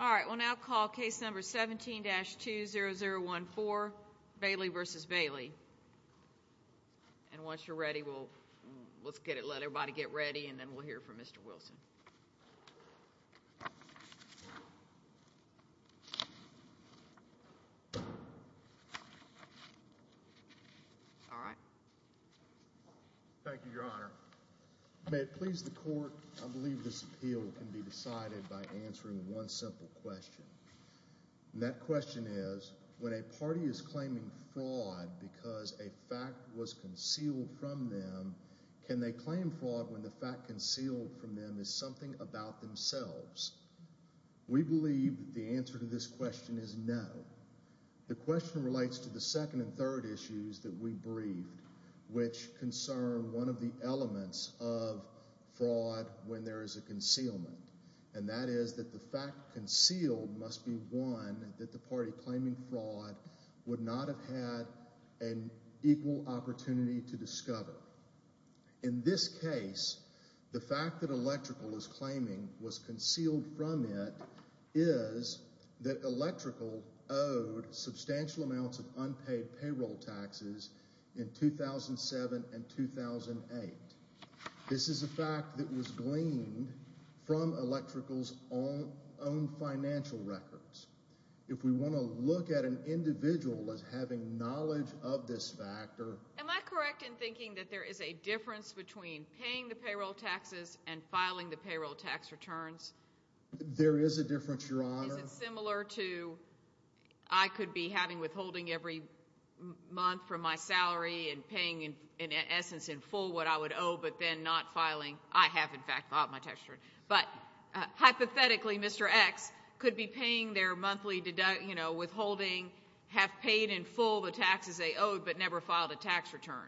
all right we'll now call case number 17-20014 Bailey v. Bailey and once you're ready we'll let's get it let everybody get ready and then we'll hear from mr. Wilson all right thank you your honor please the court I believe this appeal can be simple question that question is when a party is claiming fraud because a fact was concealed from them can they claim fraud when the fact concealed from them is something about themselves we believe the answer to this question is no the question relates to the second and third issues that we briefed which concern one of the elements of fraud when there is a concealment and that is that the fact must be one that the party claiming fraud would not have had an equal opportunity to discover in this case the fact that electrical is claiming was concealed from it is that electrical owed substantial amounts of unpaid payroll taxes in 2007 and 2008 this is a fact that was gleaned from electricals own financial records if we want to look at an individual as having knowledge of this factor am I correct in thinking that there is a difference between paying the payroll taxes and filing the payroll tax returns there is a difference your honor similar to I could be having withholding every month from my salary and paying in essence in full what I would owe but then not Mr. X could be paying their monthly deduct you know withholding have paid in full the taxes they owed but never filed a tax return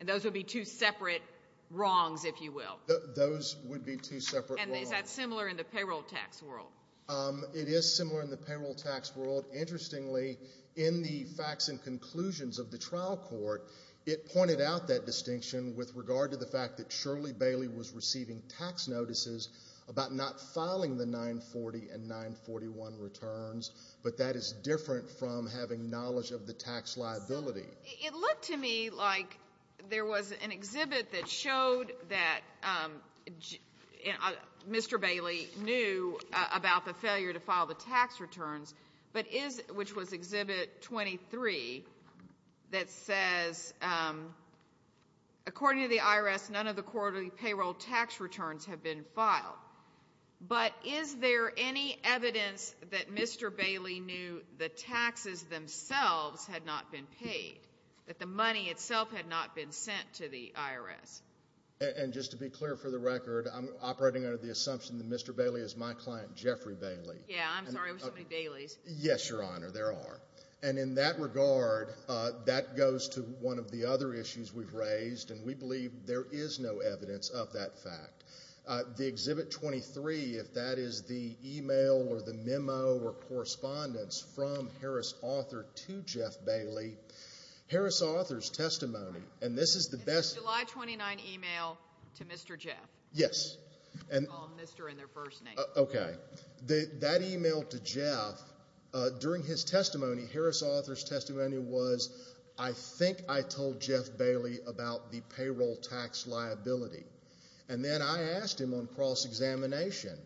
and those would be two separate wrongs if you will those would be two separate and is that similar in the payroll tax world it is similar in the payroll tax world interestingly in the facts and conclusions of the trial court it pointed out that distinction with regard to the fact that Shirley Bailey was receiving tax notices about not filing the 940 and 941 returns but that is different from having knowledge of the tax liability it looked to me like there was an exhibit that showed that Mr. Bailey knew about the failure to file the tax returns but is which was exhibit 23 that says according to the IRS none of the quarterly payroll tax returns have been filed but is there any evidence that Mr. Bailey knew the taxes themselves had not been paid that the money itself had not been sent to the IRS and just to be clear for the record I'm operating under the assumption that Mr. Bailey is my client Jeffrey Bailey yes your honor there are and in that regard that goes to one of the other issues we've raised and we believe there is no evidence of that fact the exhibit 23 if that is the email or the memo or correspondence from Harris author to Jeff Bailey Harris author's testimony and this is the best July 29 email to Mr. Jeff yes and that email to Jeff during his testimony Harris author's about the payroll tax liability and then I asked him on cross-examination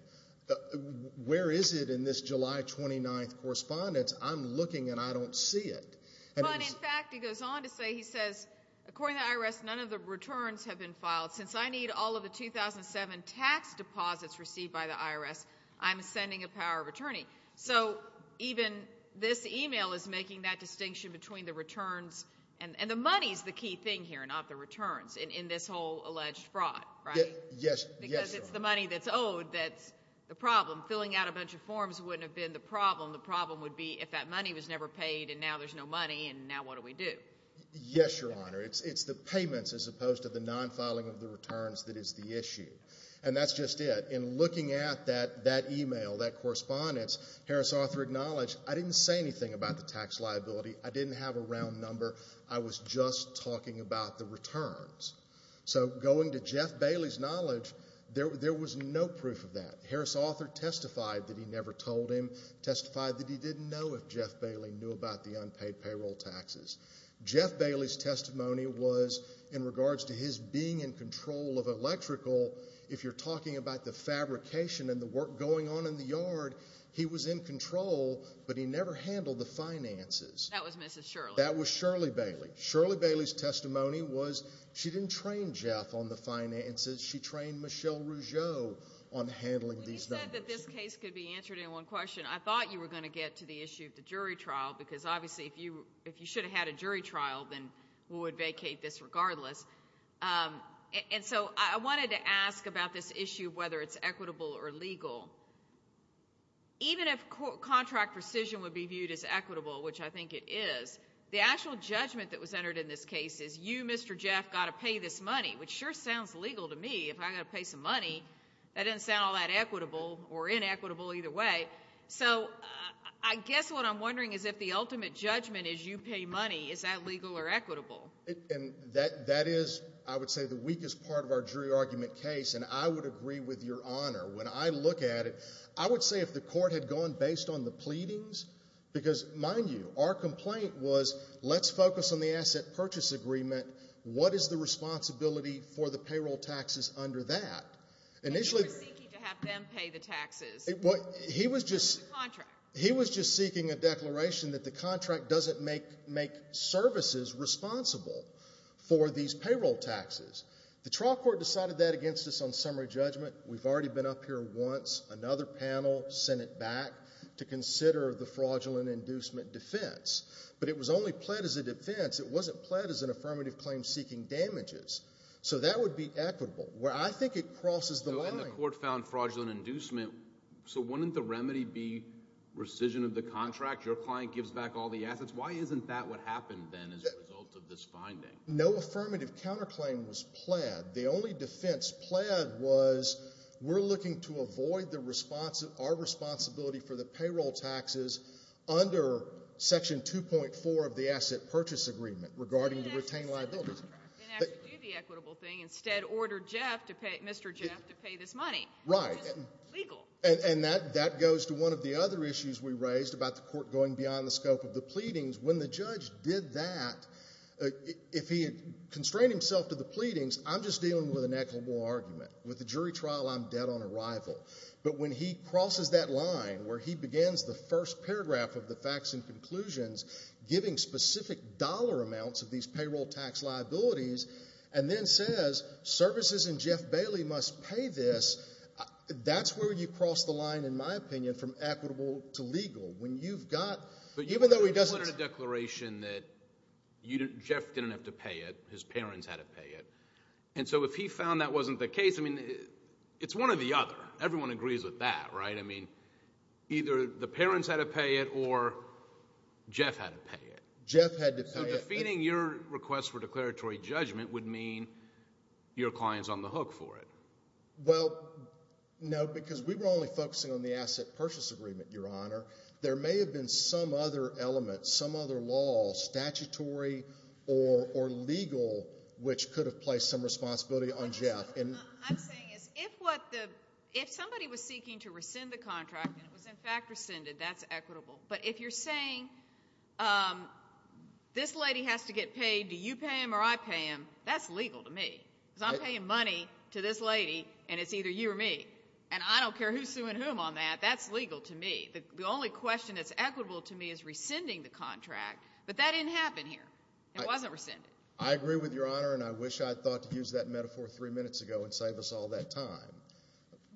where is it in this July 29 correspondence I'm looking and I don't see it he says I rest none of the returns have been filed since I need all of the 2007 tax deposits received by the IRS I'm sending a power of attorney so even this email is making that distinction between the returns and the money's the key thing here not the returns in this whole alleged fraud right yes yes it's the money that's owed that's the problem filling out a bunch of forms wouldn't have been the problem the problem would be if that money was never paid and now there's no money and now what do we do yes your honor it's it's the payments as opposed to the non-filing of the returns that is the issue and that's just it in looking at that that email that correspondence Harris author acknowledged I didn't say anything about the tax liability I was just talking about the returns so going to Jeff Bailey's knowledge there there was no proof of that Harris author testified that he never told him testified that he didn't know if Jeff Bailey knew about the unpaid payroll taxes Jeff Bailey's testimony was in regards to his being in control of electrical if you're talking about the fabrication and the work going on in the yard he was in control but he never handled the finances that was mr. Bailey Shirley Bailey's testimony was she didn't train Jeff on the finances she trained Michelle Rougeau on handling these that this case could be answered in one question I thought you were going to get to the issue of the jury trial because obviously if you if you should have had a jury trial then we would vacate this regardless and so I wanted to ask about this issue whether it's equitable or legal even if contract rescission would be viewed as equitable which I think it is the actual judgment that was entered in this case is you mr. Jeff got to pay this money which sure sounds legal to me if I got to pay some money that didn't sound all that equitable or inequitable either way so I guess what I'm wondering is if the ultimate judgment is you pay money is that legal or equitable and that that is I would say the weakest part of our jury argument case and I would agree with your honor when I look at it I would say if the court had gone based on the pleadings because mind you our complaint was let's focus on the asset purchase agreement what is the responsibility for the payroll taxes under that initially he was just he was just seeking a declaration that the contract doesn't make make services responsible for these payroll taxes the trial court decided that against us on summary judgment we've already been up here once another panel sent it back to consider the fraudulent inducement defense but it was only pled as a defense it wasn't pled as an affirmative claim seeking damages so that would be equitable where I think it crosses the line the court found fraudulent inducement so wouldn't the remedy be rescission of the contract your client gives back all the assets why isn't that what happened then as a result of this finding no affirmative counterclaim was pled the only defense pled was we're looking to avoid the response of our responsibility for the payroll taxes under section 2.4 of the asset purchase agreement regarding the retained liabilities instead order Jeff to pay mr. Jeff to pay this money right and that that goes to one of the other issues we raised about the court going beyond the scope of the pleadings when the judge did that if he had constrained himself to the pleadings I'm just dealing with an equitable argument with the jury trial I'm dead on arrival but when he crosses that line where he begins the first paragraph of the facts and conclusions giving specific dollar amounts of these payroll tax liabilities and then says services and Jeff Bailey must pay this that's where you cross the line in my opinion from equitable to legal when you've got but even though he doesn't declaration that you didn't Jeff didn't have to pay it his parents had to pay it and so if he found that wasn't the case I mean it's one of the other everyone agrees with that right I mean either the parents had to pay it or Jeff had to pay it Jeff had to defeating your request for declaratory judgment would mean your clients on the hook for it well no because we were only focusing on the asset purchase agreement your honor there may have been some other element some other law statutory or or legal which could have placed some responsibility on Jeff and if what the if somebody was seeking to rescind the contract it was in fact rescinded that's equitable but if you're saying this lady has to get paid do you pay him or I pay him that's legal to me I'm paying money to this lady and it's either you or me and I don't care who's suing whom on that that's legal to me the only question that's equitable to me is rescinding the contract but that didn't happen here it wasn't rescinded I agree with your honor and I wish I thought to use that metaphor three minutes ago and save us all that time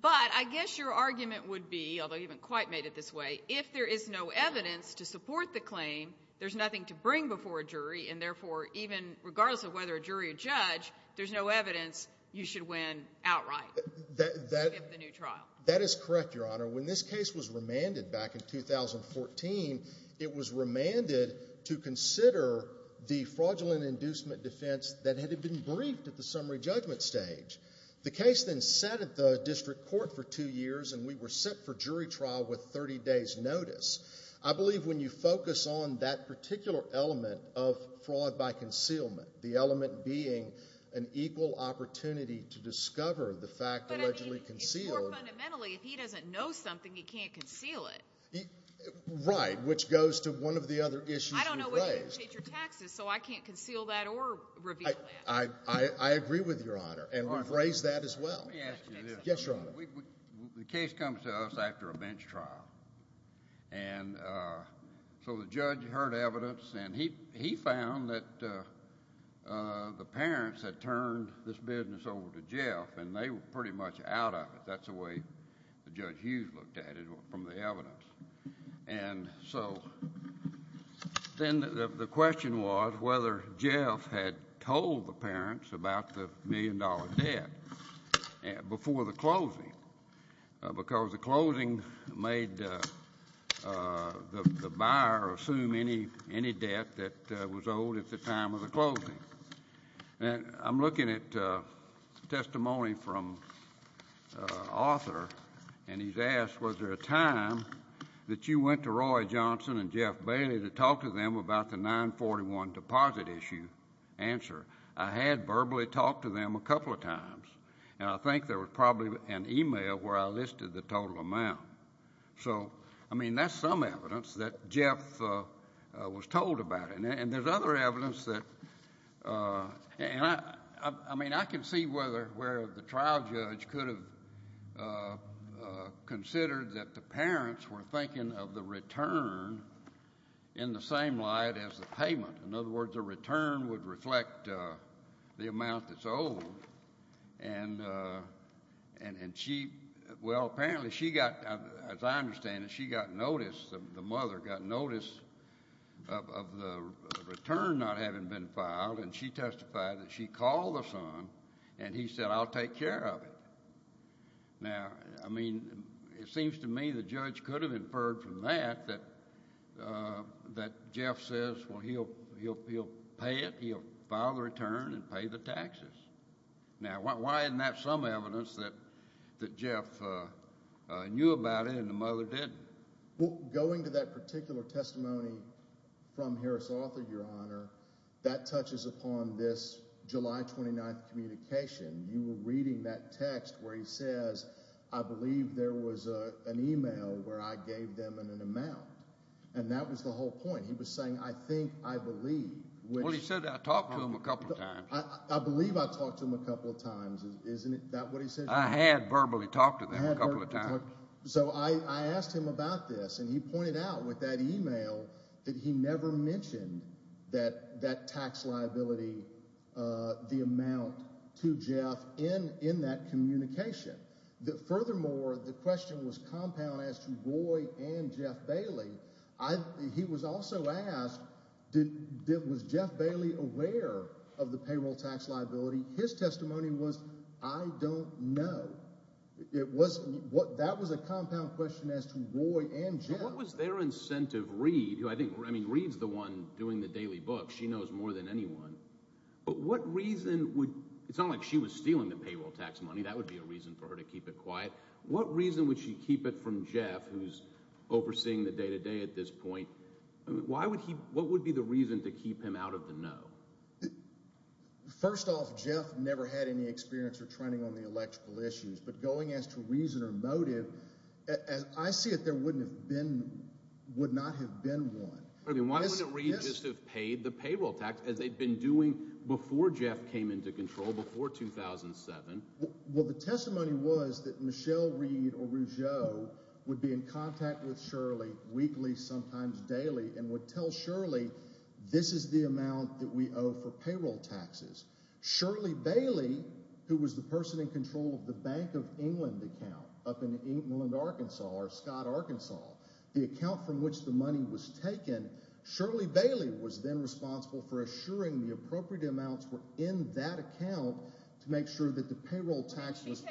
but I guess your argument would be although you haven't quite made it this way if there is no evidence to support the claim there's nothing to bring before a jury and therefore even regardless of whether a jury or judge there's no evidence you should win outright that that that is correct your honor when this case was remanded back in 2014 it was remanded to consider the fraudulent inducement defense that had been briefed at the summary judgment stage the case then set at the district court for two years and we were set for jury trial with 30 days notice I believe when you focus on that particular element of fraud by concealment the element being an equal opportunity to discover the fact that if he doesn't know something he can't conceal it right which goes to one of the other issues so I can't conceal that or I I agree with your honor and raise that as well the case comes to us after a bench trial and so the judge heard evidence and he handed this business over to Jeff and they were pretty much out of it that's the way the judge used looked at it from the evidence and so then the question was whether Jeff had told the parents about the million dollar debt before the closing because the closing made the buyer assume any any debt that was owed at the time of closing and I'm looking at testimony from author and he's asked was there a time that you went to Roy Johnson and Jeff Bailey to talk to them about the 941 deposit issue answer I had verbally talked to them a couple of times and I think there was probably an email where I listed the total amount so I mean that's some evidence that Jeff was told about it and there's other evidence that and I mean I can see whether where the trial judge could have considered that the parents were thinking of the return in the same light as the payment in other words a return would reflect the amount that's old and and and she well apparently she got as I understand it she got notice of the mother got notice of the return not having been filed and she testified that she called us on and he said I'll take care of it now I mean it seems to me the judge could have inferred from that that that Jeff says well he'll he'll pay it he'll file the return and pay the taxes now why isn't that some evidence that that Jeff knew about it and the mother did well going to that particular testimony from Harris Arthur your honor that touches upon this July 29th communication you were reading that text where he says I believe there was a an email where I gave them an amount and that was the whole point he was saying I think I believe what he said I talked to him a couple of times I believe I talked to him a couple of times isn't it that what he said I had verbally talked to them a so I asked him about this and he pointed out with that email that he never mentioned that that tax liability the amount to Jeff in in that communication that furthermore the question was compound as to Roy and Jeff Bailey I he was also asked did it was Jeff Bailey aware of the payroll tax liability his testimony was I don't know it wasn't what that was a compound question as to Roy and Jeff what was their incentive read you I think I mean reads the one doing the daily book she knows more than anyone but what reason would it's not like she was stealing the payroll tax money that would be a reason for her to keep it quiet what reason would she keep it from Jeff who's overseeing the day-to-day at this point why would he what would be the reason to never had any experience or training on the electrical issues but going as to reason or motive as I see it there wouldn't have been would not have been one I mean why is it really just have paid the payroll tax as they've been doing before Jeff came into control before 2007 well the testimony was that Michelle Reed or Rougeau would be in contact with Shirley weekly sometimes daily and would tell Shirley this is the amount that we owe for payroll taxes Shirley Bailey who was the person in control of the Bank of England account up in England Arkansas or Scott Arkansas the account from which the money was taken Shirley Bailey was then responsible for assuring the appropriate amounts were in that account to make sure that the payroll taxes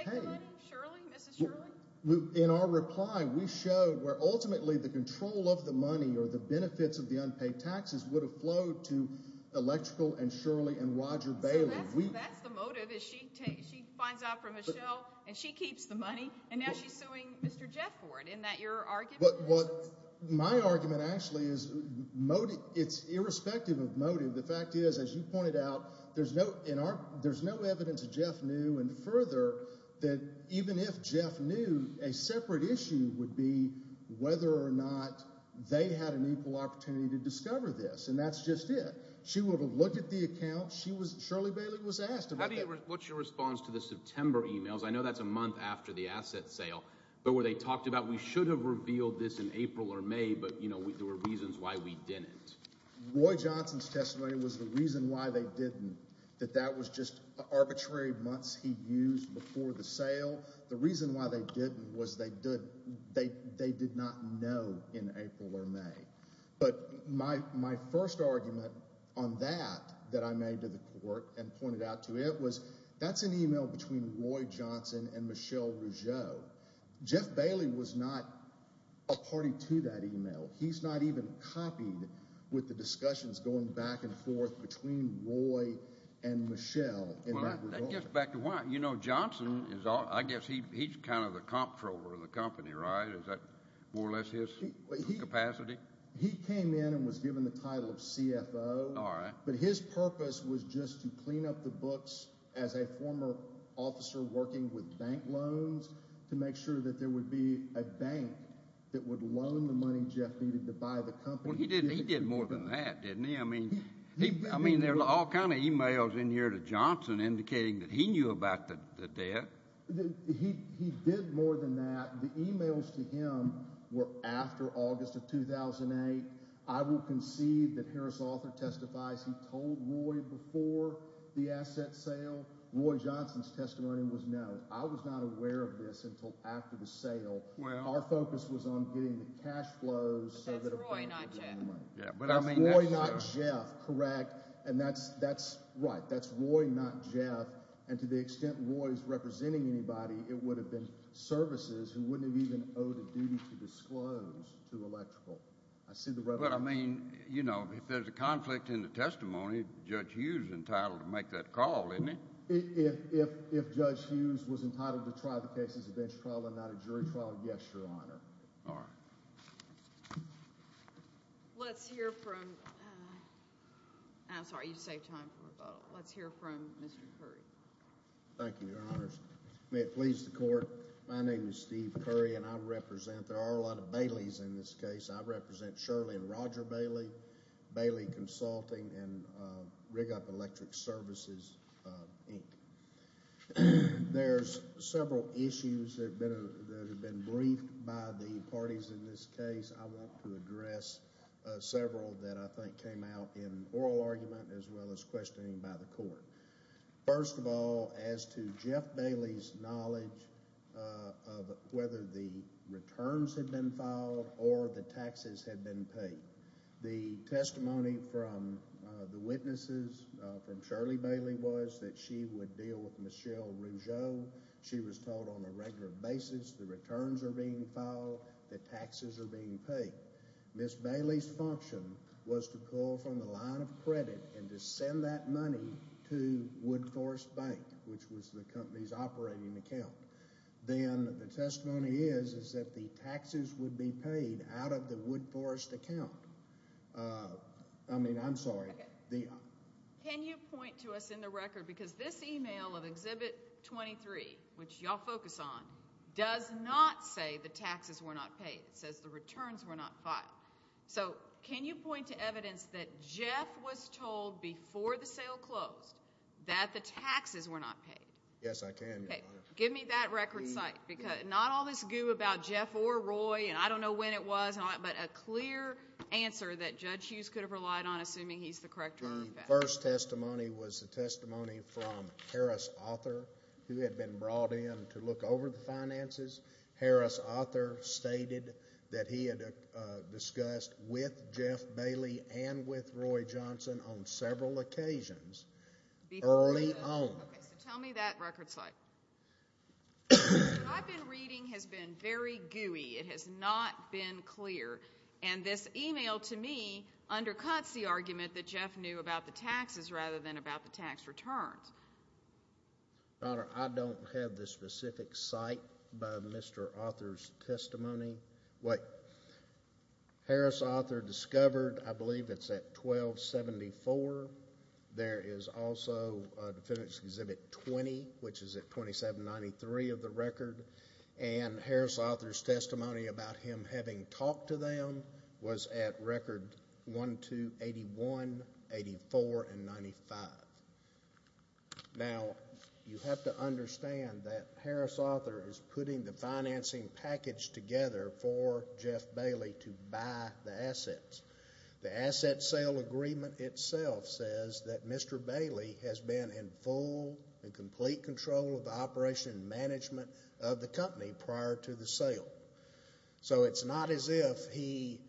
in our reply we showed where ultimately the control of the money or the benefits of the unpaid taxes would have flowed to electrical and Shirley and Roger Bailey and she keeps the money and now she's suing mr. Jeff for it in that you're arguing but what my argument actually is motive it's irrespective of motive the fact is as you pointed out there's no in our there's no evidence of Jeff knew and further that even if Jeff knew a separate issue would be whether or not they had an equal opportunity to discover this and that's just it she would have looked at the account she was Shirley Bailey was asked about it what's your response to the September emails I know that's a month after the asset sale but where they talked about we should have revealed this in April or May but you know there were reasons why we did it Roy Johnson's testimony was the reason why they didn't that that was just arbitrary months he used before the sale the reason why they didn't was they did they did not know in April or May but my first argument on that that I made to the court and pointed out to it was that's an email between Roy Johnson and Michelle Rougeau Jeff Bailey was not a party to that email he's not even copied with the discussions going back and forth between Roy and Michelle you know Johnson is all I guess he's kind of the comptroller of the company right is that more or less his capacity he came in and was given the title of CFO all right but his purpose was just to clean up the books as a former officer working with bank loans to make sure that there would be a bank that would loan the money Jeff needed to buy the company he did he did more than that didn't he I mean I mean they're all kind of emails in here to Johnson indicating that he knew about the debt he did more than that the emails to him were after August of 2008 I will concede that Harris author testifies he told Roy before the asset sale Roy Johnson's testimony was no I was not aware of this until after the sale well our focus was on getting the cash flows yeah but I mean not Jeff correct and that's that's right that's Roy not Jeff and to the extent Roy's representing anybody it would have been services who wouldn't have even owed a duty to disclose to electrical I see the road I mean you know if there's a conflict in the testimony judge Hughes entitled to make that call in it if if judge Hughes was entitled to try the cases a bench trial and not a jury trial yes your honor all right let's hear from I'm sorry you thank you your honors may it please the court my name is Steve Curry and I represent there are a lot of Bailey's in this case I represent Shirley and Roger Bailey Bailey consulting and rig up electric services there's several issues that have been briefed by the parties in this case I want to address several that first of all as to Jeff Bailey's knowledge of whether the returns had been filed or the taxes had been paid the testimony from the witnesses from Shirley Bailey was that she would deal with Michelle Rouge oh she was told on a regular basis the returns are being filed the taxes are being paid miss Bailey's function was to call from the line of credit and to send that money to Wood Forest Bank which was the company's operating account then the testimony is is that the taxes would be paid out of the Wood Forest account I mean I'm sorry the can you point to us in the record because this email of exhibit 23 which y'all focus on does not say the taxes were not paid says the returns were not filed so can you point to evidence that Jeff was told before the sale closed that the taxes were not paid yes I can give me that record site because not all this goo about Jeff or Roy and I don't know when it was not but a clear answer that judge Hughes could have relied on assuming he's the corrector first testimony was the testimony from Harris author who had been brought in to look over the finances Harris author stated that he had discussed with Jeff Bailey and with Roy Johnson on several occasions early on I've been reading has been very gooey it has not been clear and this email to me undercuts the argument that Jeff knew about the taxes rather than about the tax returns I don't have this specific site by Mr. authors testimony what Harris author discovered I believe it's at 1274 there is also exhibit 20 which is at 2793 of the record and Harris authors testimony about him having talked to them was at record 1281 84 and 95 now you have to understand that Harris author is putting the financing package together for Jeff Bailey to buy the assets the asset sale agreement itself says that Mr. Bailey has been in full and complete control of the operation management of the company prior to the sale so it's not as if he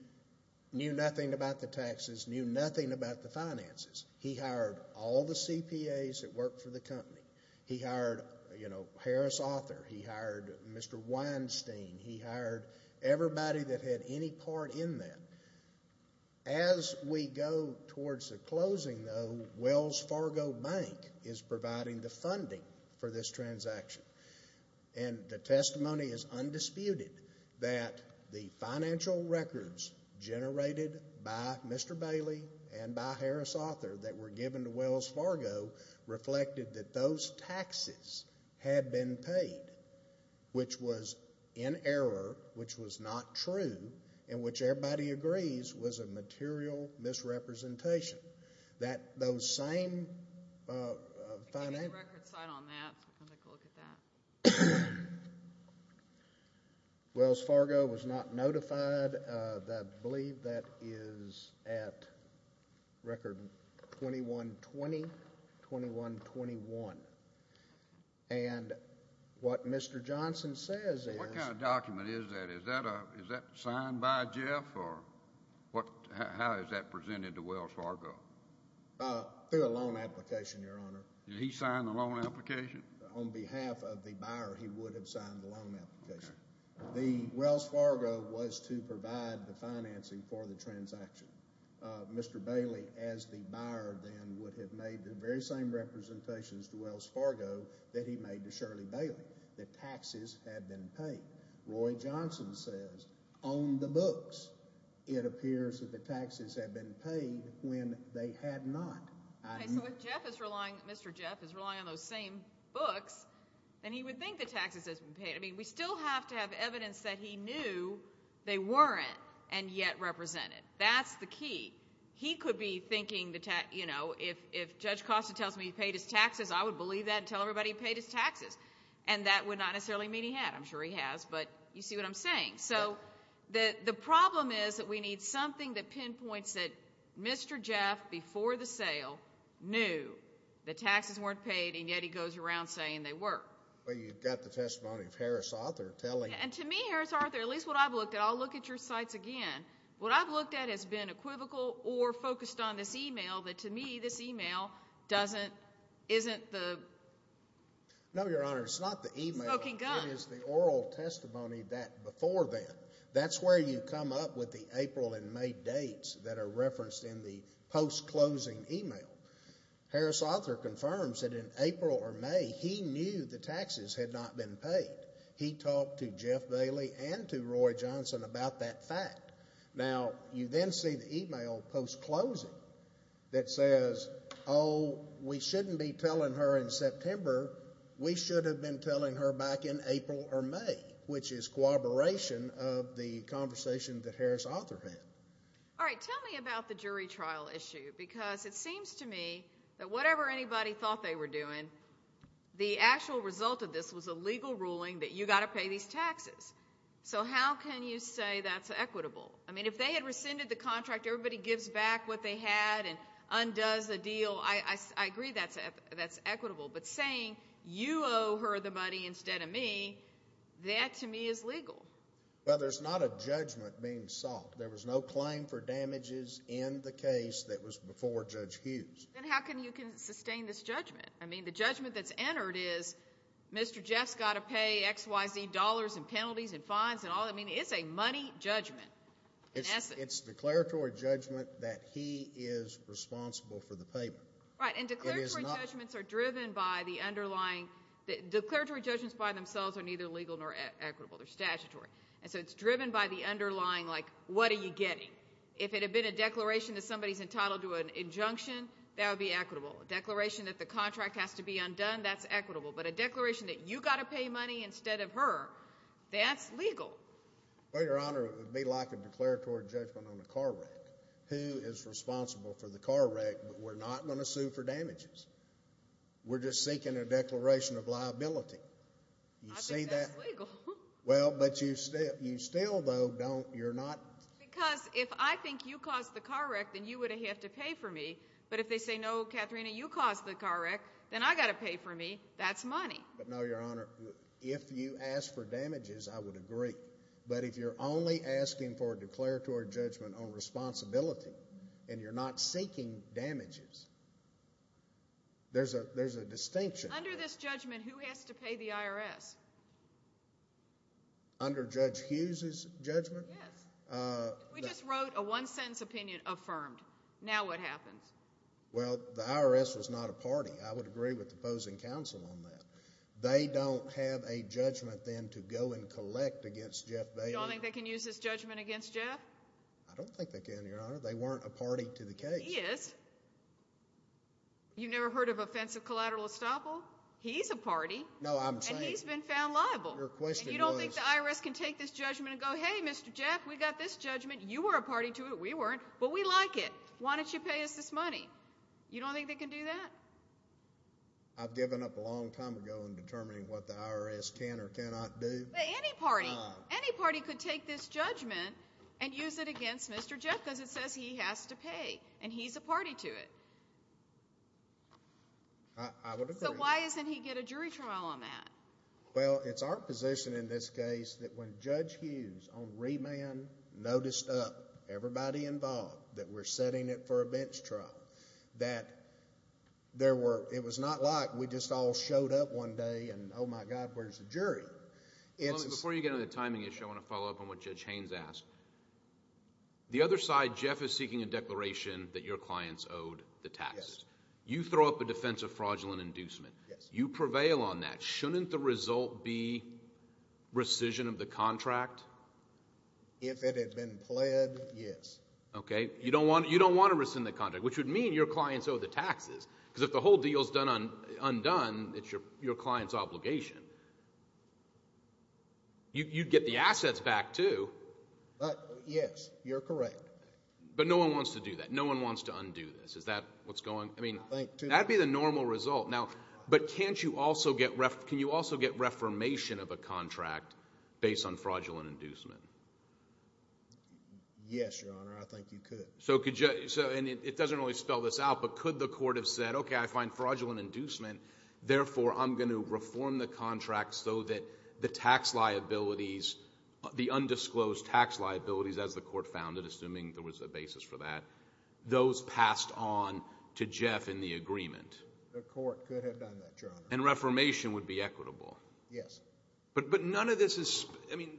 knew nothing about the taxes knew nothing about the finances he hired all the CPAs that work for the company he hired you know Harris author he hired Mr. Weinstein he hired everybody that had any part in that as we go towards the closing the Wells Fargo Bank is providing the funding for this generated by Mr. Bailey and by Harris author that were given to Wells Fargo reflected that those taxes had been paid which was in error which was not true and which everybody agrees was a material misrepresentation that those Wells Fargo was not notified that believe that is at record 2120 2121 and what Mr. Johnson says that is that is that signed by Jeff or what is that presented to Wells Fargo application on behalf of the Wells Fargo was to provide the financing for the transaction Mr. Bailey as the buyer would have made the very same representations to Wells Fargo that he made to Shirley Bailey that taxes had been paid Roy Johnson says on the books it appears that the taxes have been paid when they had not Mr. Jeff is relying on those same books and he would think the taxes has been paid I mean we still have to have evidence that he knew they weren't and yet represented that's the key he could be thinking that you know if if Judge Costa tells me paid his taxes I would believe that everybody paid his taxes and that would not necessarily mean he had I'm sure he has but you see what I'm saying so that the problem is that we need something that pinpoints that Mr. Jeff before the sale knew the taxes weren't paid and yet he goes around saying they were and to me at least what I've looked at all look at your sites again what I've looked at has been a equivocal or focused on this email that to me this email doesn't isn't the no your honor it's not the email is the oral testimony that before that that's where you come up with the April and May dates that are referenced in the post closing email Harris author confirms that in April or May he knew the taxes had not been paid he talked to Jeff Bailey and to Roy Johnson about that now you then see the email post-closing that says oh we shouldn't be telling her in September we should have been telling her back in April or May which is cooperation of the conversation that Harris author had all right tell me about the jury trial issue because it seems to me that whatever anybody thought they were doing the actual result of this was a legal ruling that you gotta pay these taxes so how can you say that's equitable I mean if they had rescinded the contract everybody gives back what they had and undoes the deal I I agree that's it that's equitable but saying you owe her the money instead of me that to me is legal but there's not a judgment being sought there was no claim for damages in the case that was before judge Hughes and how can you can sustain this judgment I mean the judgment that's entered is Mr. Jeff's got to pay XYZ dollars and penalties and fines and all I mean it's a money judgment yes it's declaratory judgment that he is responsible for the payment right and declaratory judgments are driven by the underlying that declaratory judgments by themselves are neither legal nor equitable they're statutory and so it's driven by the underlying like what are you getting if it had been a declaration that somebody's entitled to an injunction that would be equitable a declaration that the contract has to be undone that's equitable but a declaration that you got to pay money instead of her that's legal well your honor would be like a declaratory judgment on the car wreck who is responsible for the car wreck but we're not going to sue for damages we're just seeking a declaration of liability you say that well but you still you still though don't you're not because if I think you caused the car wreck then you wouldn't have to pay for me but if they say no Katharina you caused the car wreck then I got to pay for me that's money but no your honor if you ask for damages I would agree but if you're only asking for a declaratory judgment on responsibility and you're not seeking damages there's a there's a distinction under this judgment who has to pay the IRS under judge Hughes's judgment we just wrote a one-sentence opinion affirmed now what happens well the IRS was not a party I would agree with the opposing counsel on that they don't have a judgment then to go and collect against Jeff Bailey they can use this judgment against Jeff I don't think they can your honor they weren't a party to the case yes you never heard of offensive collateral estoppel he's a party no I'm saying he's been found liable your question you don't think the IRS can take this judgment and go hey mr. Jeff we got this judgment you were a you don't think they can do that I've given up a long time ago in determining what the IRS can or cannot do any party any party could take this judgment and use it against mr. Jeff because it says he has to pay and he's a party to it so why isn't he get a jury trial on that well it's our position in this case that when judge Hughes on remand noticed up everybody involved that we're setting it for a bench trial that there were it was not like we just all showed up one day and oh my god where's the jury it's before you get into the timing issue I want to follow up on what judge Haynes asked the other side Jeff is seeking a declaration that your clients owed the taxes you throw up a defensive fraudulent inducement you prevail on that shouldn't the result be rescission of the contract if it had been played yes okay you don't want you don't want to rescind the contract which would mean your clients owe the taxes because if the whole deal is done on undone it's your your clients obligation you get the assets back to but yes you're correct but no one wants to do that no one wants to undo this is that what's going I mean thank you that'd be the normal result now but can't you also get ref can you also get reformation of a contract based on fraudulent inducement yes your honor I think you could so could you so and it doesn't always spell this out but could the court have said okay I find fraudulent inducement therefore I'm going to reform the contract so that the tax liabilities the undisclosed tax liabilities as the court founded assuming there was a basis for that those passed on to Jeff in the agreement the court and reformation would be equitable yes but but none of this is I mean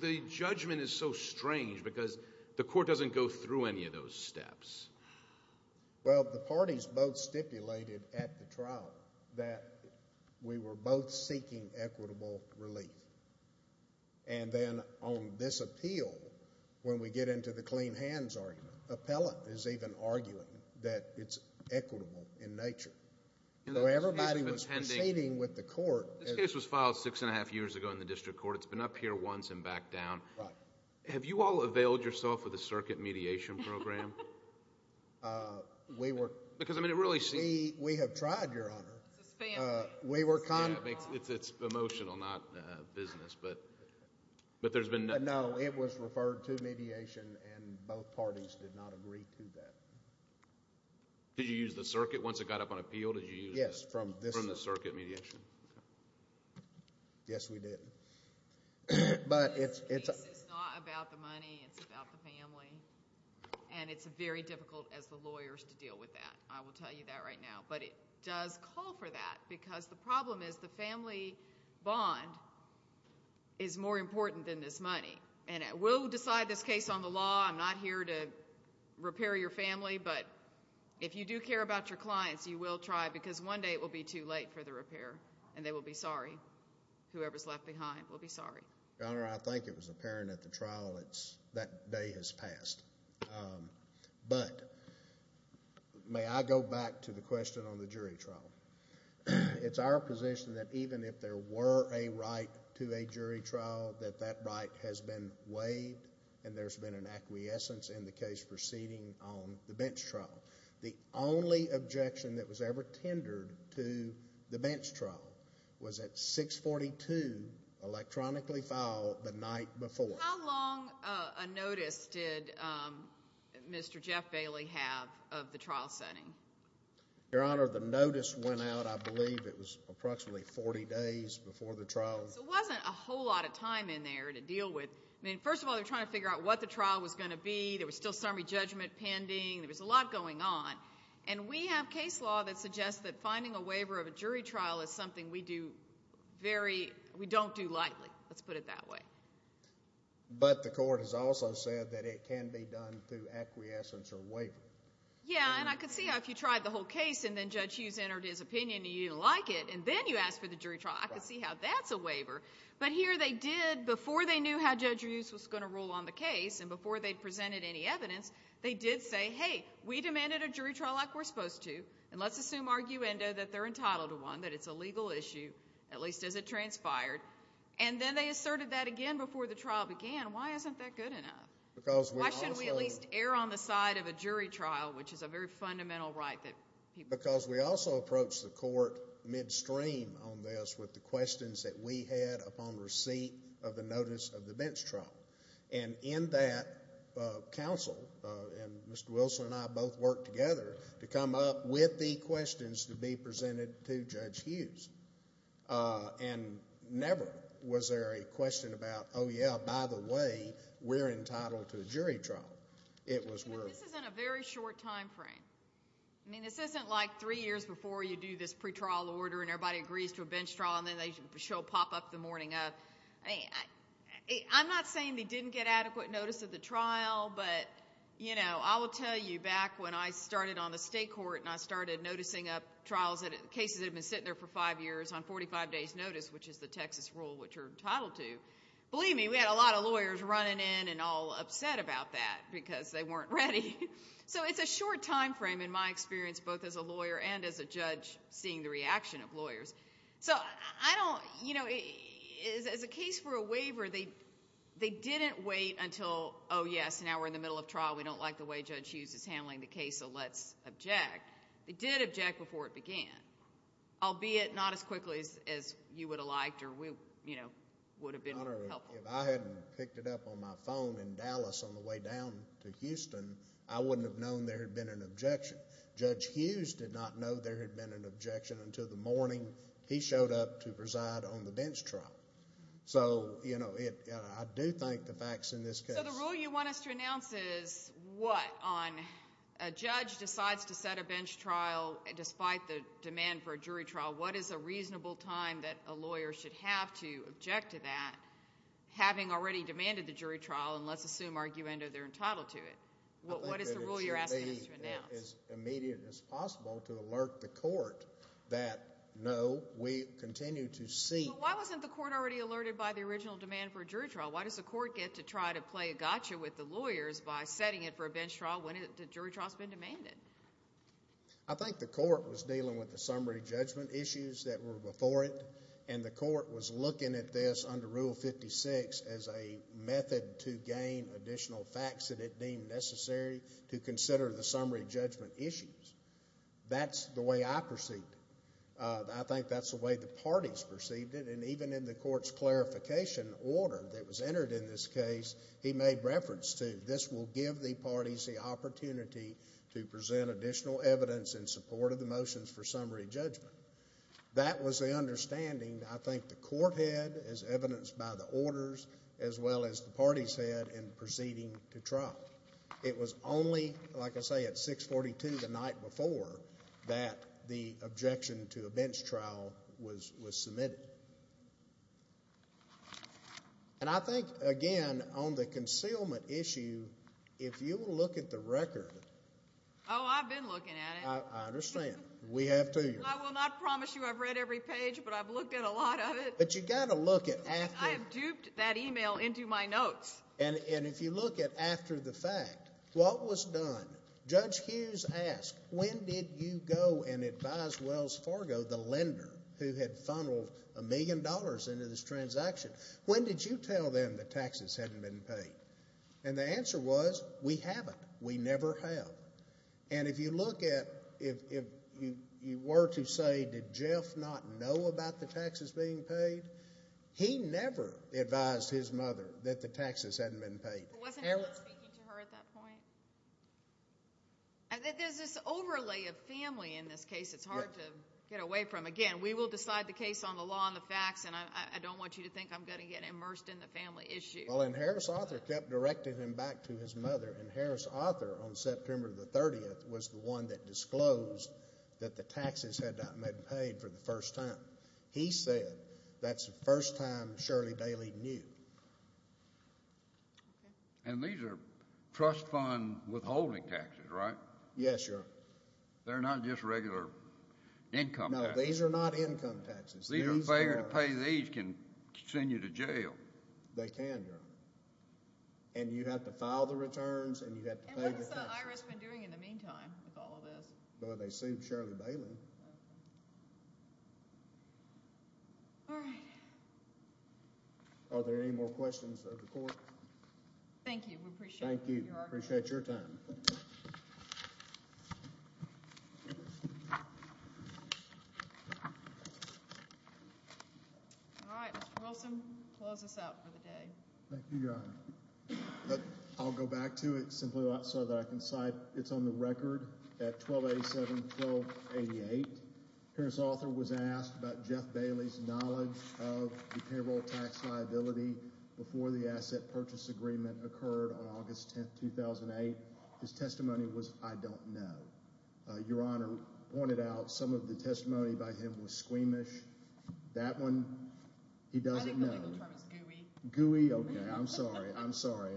the judgment is so strange because the court doesn't go through any of those steps well the parties both stipulated at the trial that we were both seeking equitable relief and then on this appeal when we get into the clean hands argument appellate is even arguing that it's equitable in nature you know everybody was hanging with the court this case was filed six and a half years ago in the district court it's been up here once and back down right have you all availed yourself of the circuit mediation program we were because I mean it really see we have tried your honor we were kind of it's it's emotional not business but but there's been no it was referred to mediation and both parties did not agree to that did you use the circuit once it got up on but it's very difficult as the lawyers to deal with that I will tell you that right now but it does call for that because the problem is the family bond is more important than this money and it will decide this case on the law I'm not here to repair your family but if you do care about your clients you will try because one day it will be too late for the repair and they will be sorry whoever's left behind will be sorry I think it was apparent at the trial it's that day has passed but may I go back to the question on the jury trial it's our position that even if there were a right to a jury trial that that right has been weighed and there's been an acquiescence in the case proceeding on the bench trial the only objection that was ever tendered to the bench trial was at 642 electronically file the night before a notice did mr. Jeff Bailey have of the trial setting your honor the notice went out I believe it was approximately 40 days before the trial wasn't a whole lot of time in there to deal with me first of all they're trying to figure out what the trial was going to be there was still summary judgment pending there was a lot going on and we have case law that suggests that finding a waiver of a jury trial is something we do very we don't do lightly let's put it that way but the court has also said that it can be done through acquiescence or waiver yeah and I could see how if you tried the whole case and then judge Hughes entered his opinion you didn't like it and then you asked for the jury trial I could see how that's a waiver but here they did before they knew how judge Hughes was going to rule on the case and before they presented any evidence they did say hey we demanded a jury trial like we're supposed to and let's assume arguendo that they're entitled to one that it's a legal issue at least as it transpired and then they asserted that again before the trial began why isn't that good enough because why should we at least err on the side of a jury trial which is a very fundamental right that because we also approach the court midstream on this with the questions that we had upon receipt of the notice of the bench trial and in that counsel and mr. Wilson and I both work together to come up with the questions to be presented to judge Hughes and never was there a question about oh yeah by the way we're entitled to a jury trial it was in a very short time frame I mean this isn't like three years before you do this pretrial order and everybody agrees to a bench trial and then they show pop-up the morning of hey I'm not saying they didn't get adequate notice of the trial but you know I will tell you back when I started on the state court and I started noticing up trials that cases have been sitting there for five years on 45 days notice which is the Texas rule which are entitled to believe me we had a lot of lawyers running in and all upset about that because they weren't ready so it's a short time frame in my experience both as a lawyer and as a judge seeing the lawyers so I don't you know it is as a case for a waiver they they didn't wait until oh yes now we're in the middle of trial we don't like the way judge Hughes is handling the case so let's object they did object before it began albeit not as quickly as you would have liked or we you know would have been helpful if I hadn't picked it up on my phone in Dallas on the way down to Houston I wouldn't have known there had been an objection judge Hughes did not know there had been an objection until the morning he showed up to preside on the bench trial so you know it I do think the facts in this case the rule you want us to announce is what on a judge decides to set a bench trial and despite the demand for a jury trial what is a reasonable time that a lawyer should have to object to that having already demanded the jury trial and let's assume argument or they're entitled to it what what is the rule you're asking to announce as immediate as possible to alert the court that no we continue to see why wasn't the court already alerted by the original demand for jury trial why does the court get to try to play a gotcha with the lawyers by setting it for a bench trial when it jury trials been demanded I think the court was dealing with the summary judgment issues that were before it and the court was looking at this under rule 56 as a method to gain additional facts that it deemed necessary to consider the summary judgment issues that's the way I perceived I think that's the way the parties perceived it and even in the court's clarification order that was entered in this case he made reference to this will give the parties the opportunity to present additional evidence in support of the motions for summary judgment that was the understanding I think the court had as evidenced by the orders as well as the party's head and proceeding to trial it was only like I say at 642 the night before that the objection to a bench trial was was submitted and I think again on the concealment issue if you look at the record oh I've been looking at it understand we have to I will not promise you I've read every page but I've looked at a lot of it but you gotta look at that I have duped that email into my notes and if you look at after the fact what was done judge Hughes asked when did you go and advise Wells Fargo the lender who had funneled a million dollars into this transaction when did you tell them the and if you look at if you were to say did Jeff not know about the taxes being paid he never advised his mother that the taxes hadn't been paid I think there's this overlay of family in this case it's hard to get away from again we will decide the case on the law on the facts and I don't want you to think I'm going to get immersed in the family issue well and Harris author kept directed him back to his mother and Harris author on September the 30th was the one that disclosed that the taxes had not been paid for the first time he said that's the first time Shirley Bailey knew and these are trust fund withholding taxes right yes sir they're not just regular income these are not to pay these can send you to jail they can and you have to file the returns and you have to follow this but they seem Shirley Bailey are there any more questions of the court thank you thank you appreciate your time I'll go back to it simply outside that I can cite it's on the record at 1287 1288 Paris author was asked about Jeff Bailey's knowledge of payroll tax liability before the asset purchase agreement occurred on August 10 2008 his testimony was I don't know your honor pointed out some of the testimony by him was squeamish that one he doesn't know who we are I'm sorry I'm sorry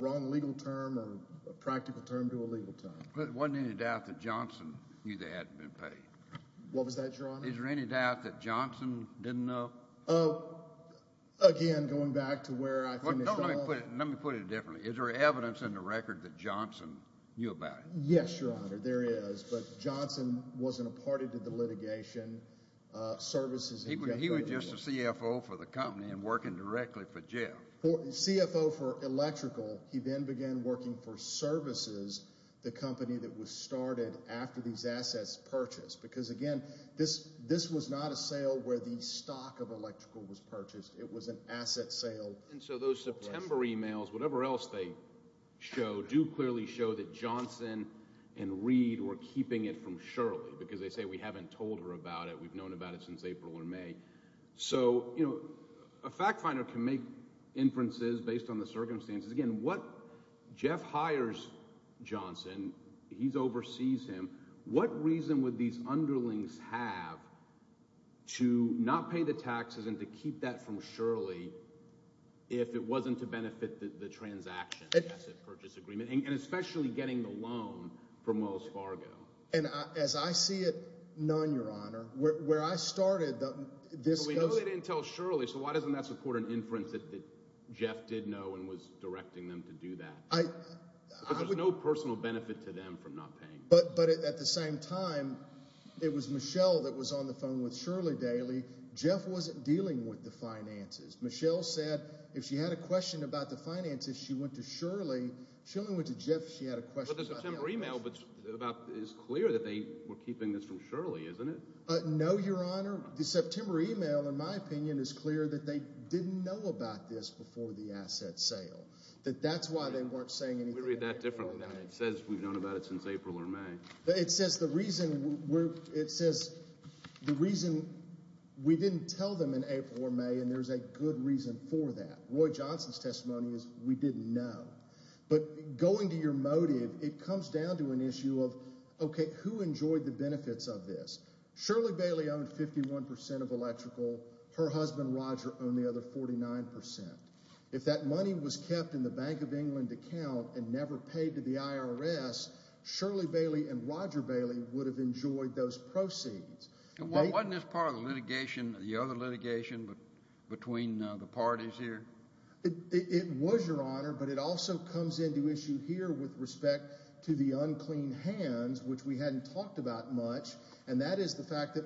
wrong legal term or practical term to a legal time but one ended after Johnson knew that had been paid what was that your honor is there any doubt that Johnson didn't know again going back to where I put it differently is there evidence in the record that Johnson knew about yes your honor there is but Johnson wasn't a litigation services he was just a CFO for the company and working directly for Jeff for CFO for electrical he then began working for services the company that was started after these assets purchased because again this this was not a sale where the stock of electrical was purchased it was an asset sale and so those September emails whatever else they show do clearly show that Johnson and read or keeping it from Shirley because they say we haven't told her about it we've known about it since April or May so you know a fact finder can make inferences based on the circumstances again what Jeff hires Johnson he's oversees him what reason would these underlings have to not pay the taxes and to keep that from Shirley if it wasn't to benefit the transaction and especially getting the loan from Wells Fargo and as I see it none your honor where I started this we know they didn't tell Shirley so why doesn't that support an inference that Jeff did know and was directing them to do that I there's no personal benefit to them from not paying but but at the same time it was Michelle that was on the phone with Shirley daily Jeff wasn't dealing with the finances Michelle said if she had a question about the finances she went to Shirley she only went to Jeff she had a question email but about is clear that they were keeping this from Shirley isn't it no your honor the September email in my opinion is clear that they didn't know about this before the asset sale that that's why they weren't saying anything that differently that it says we've known about it since April or May it says the reason we're it says the reason we didn't tell them in April or May and there's a good reason for that but going to your motive it comes down to an issue of okay who enjoyed the benefits of this Shirley Bailey owned 51% of electrical her husband Roger own the other 49% if that money was kept in the Bank of England account and never paid to the IRS Shirley Bailey and Roger Bailey would have enjoyed those proceeds well wasn't this part of the litigation the other litigation but between the parties here it was your honor but it also comes into issue here with respect to the unclean hands which we hadn't talked about much and that is the fact that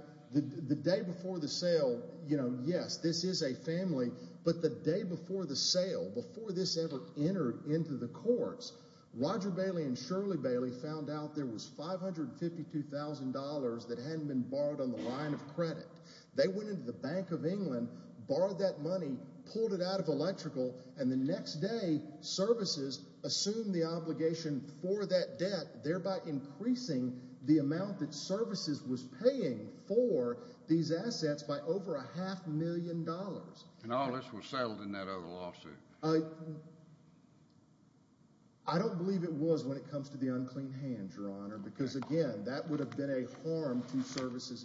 the day before the sale you know yes this is a family but the day before the sale before this ever entered into the courts Roger Bailey and Shirley Bailey found out there was five hundred fifty two thousand dollars that hadn't been borrowed on the line of credit they went into the Bank of England borrowed that money pulled it out of electrical and the next day services assume the obligation for that debt thereby increasing the amount that services was paying for these assets by over a half million dollars and all this was settled in that over lawsuit I I don't believe it was when it comes to the unclean hands your honor because again that would have been a harm to services and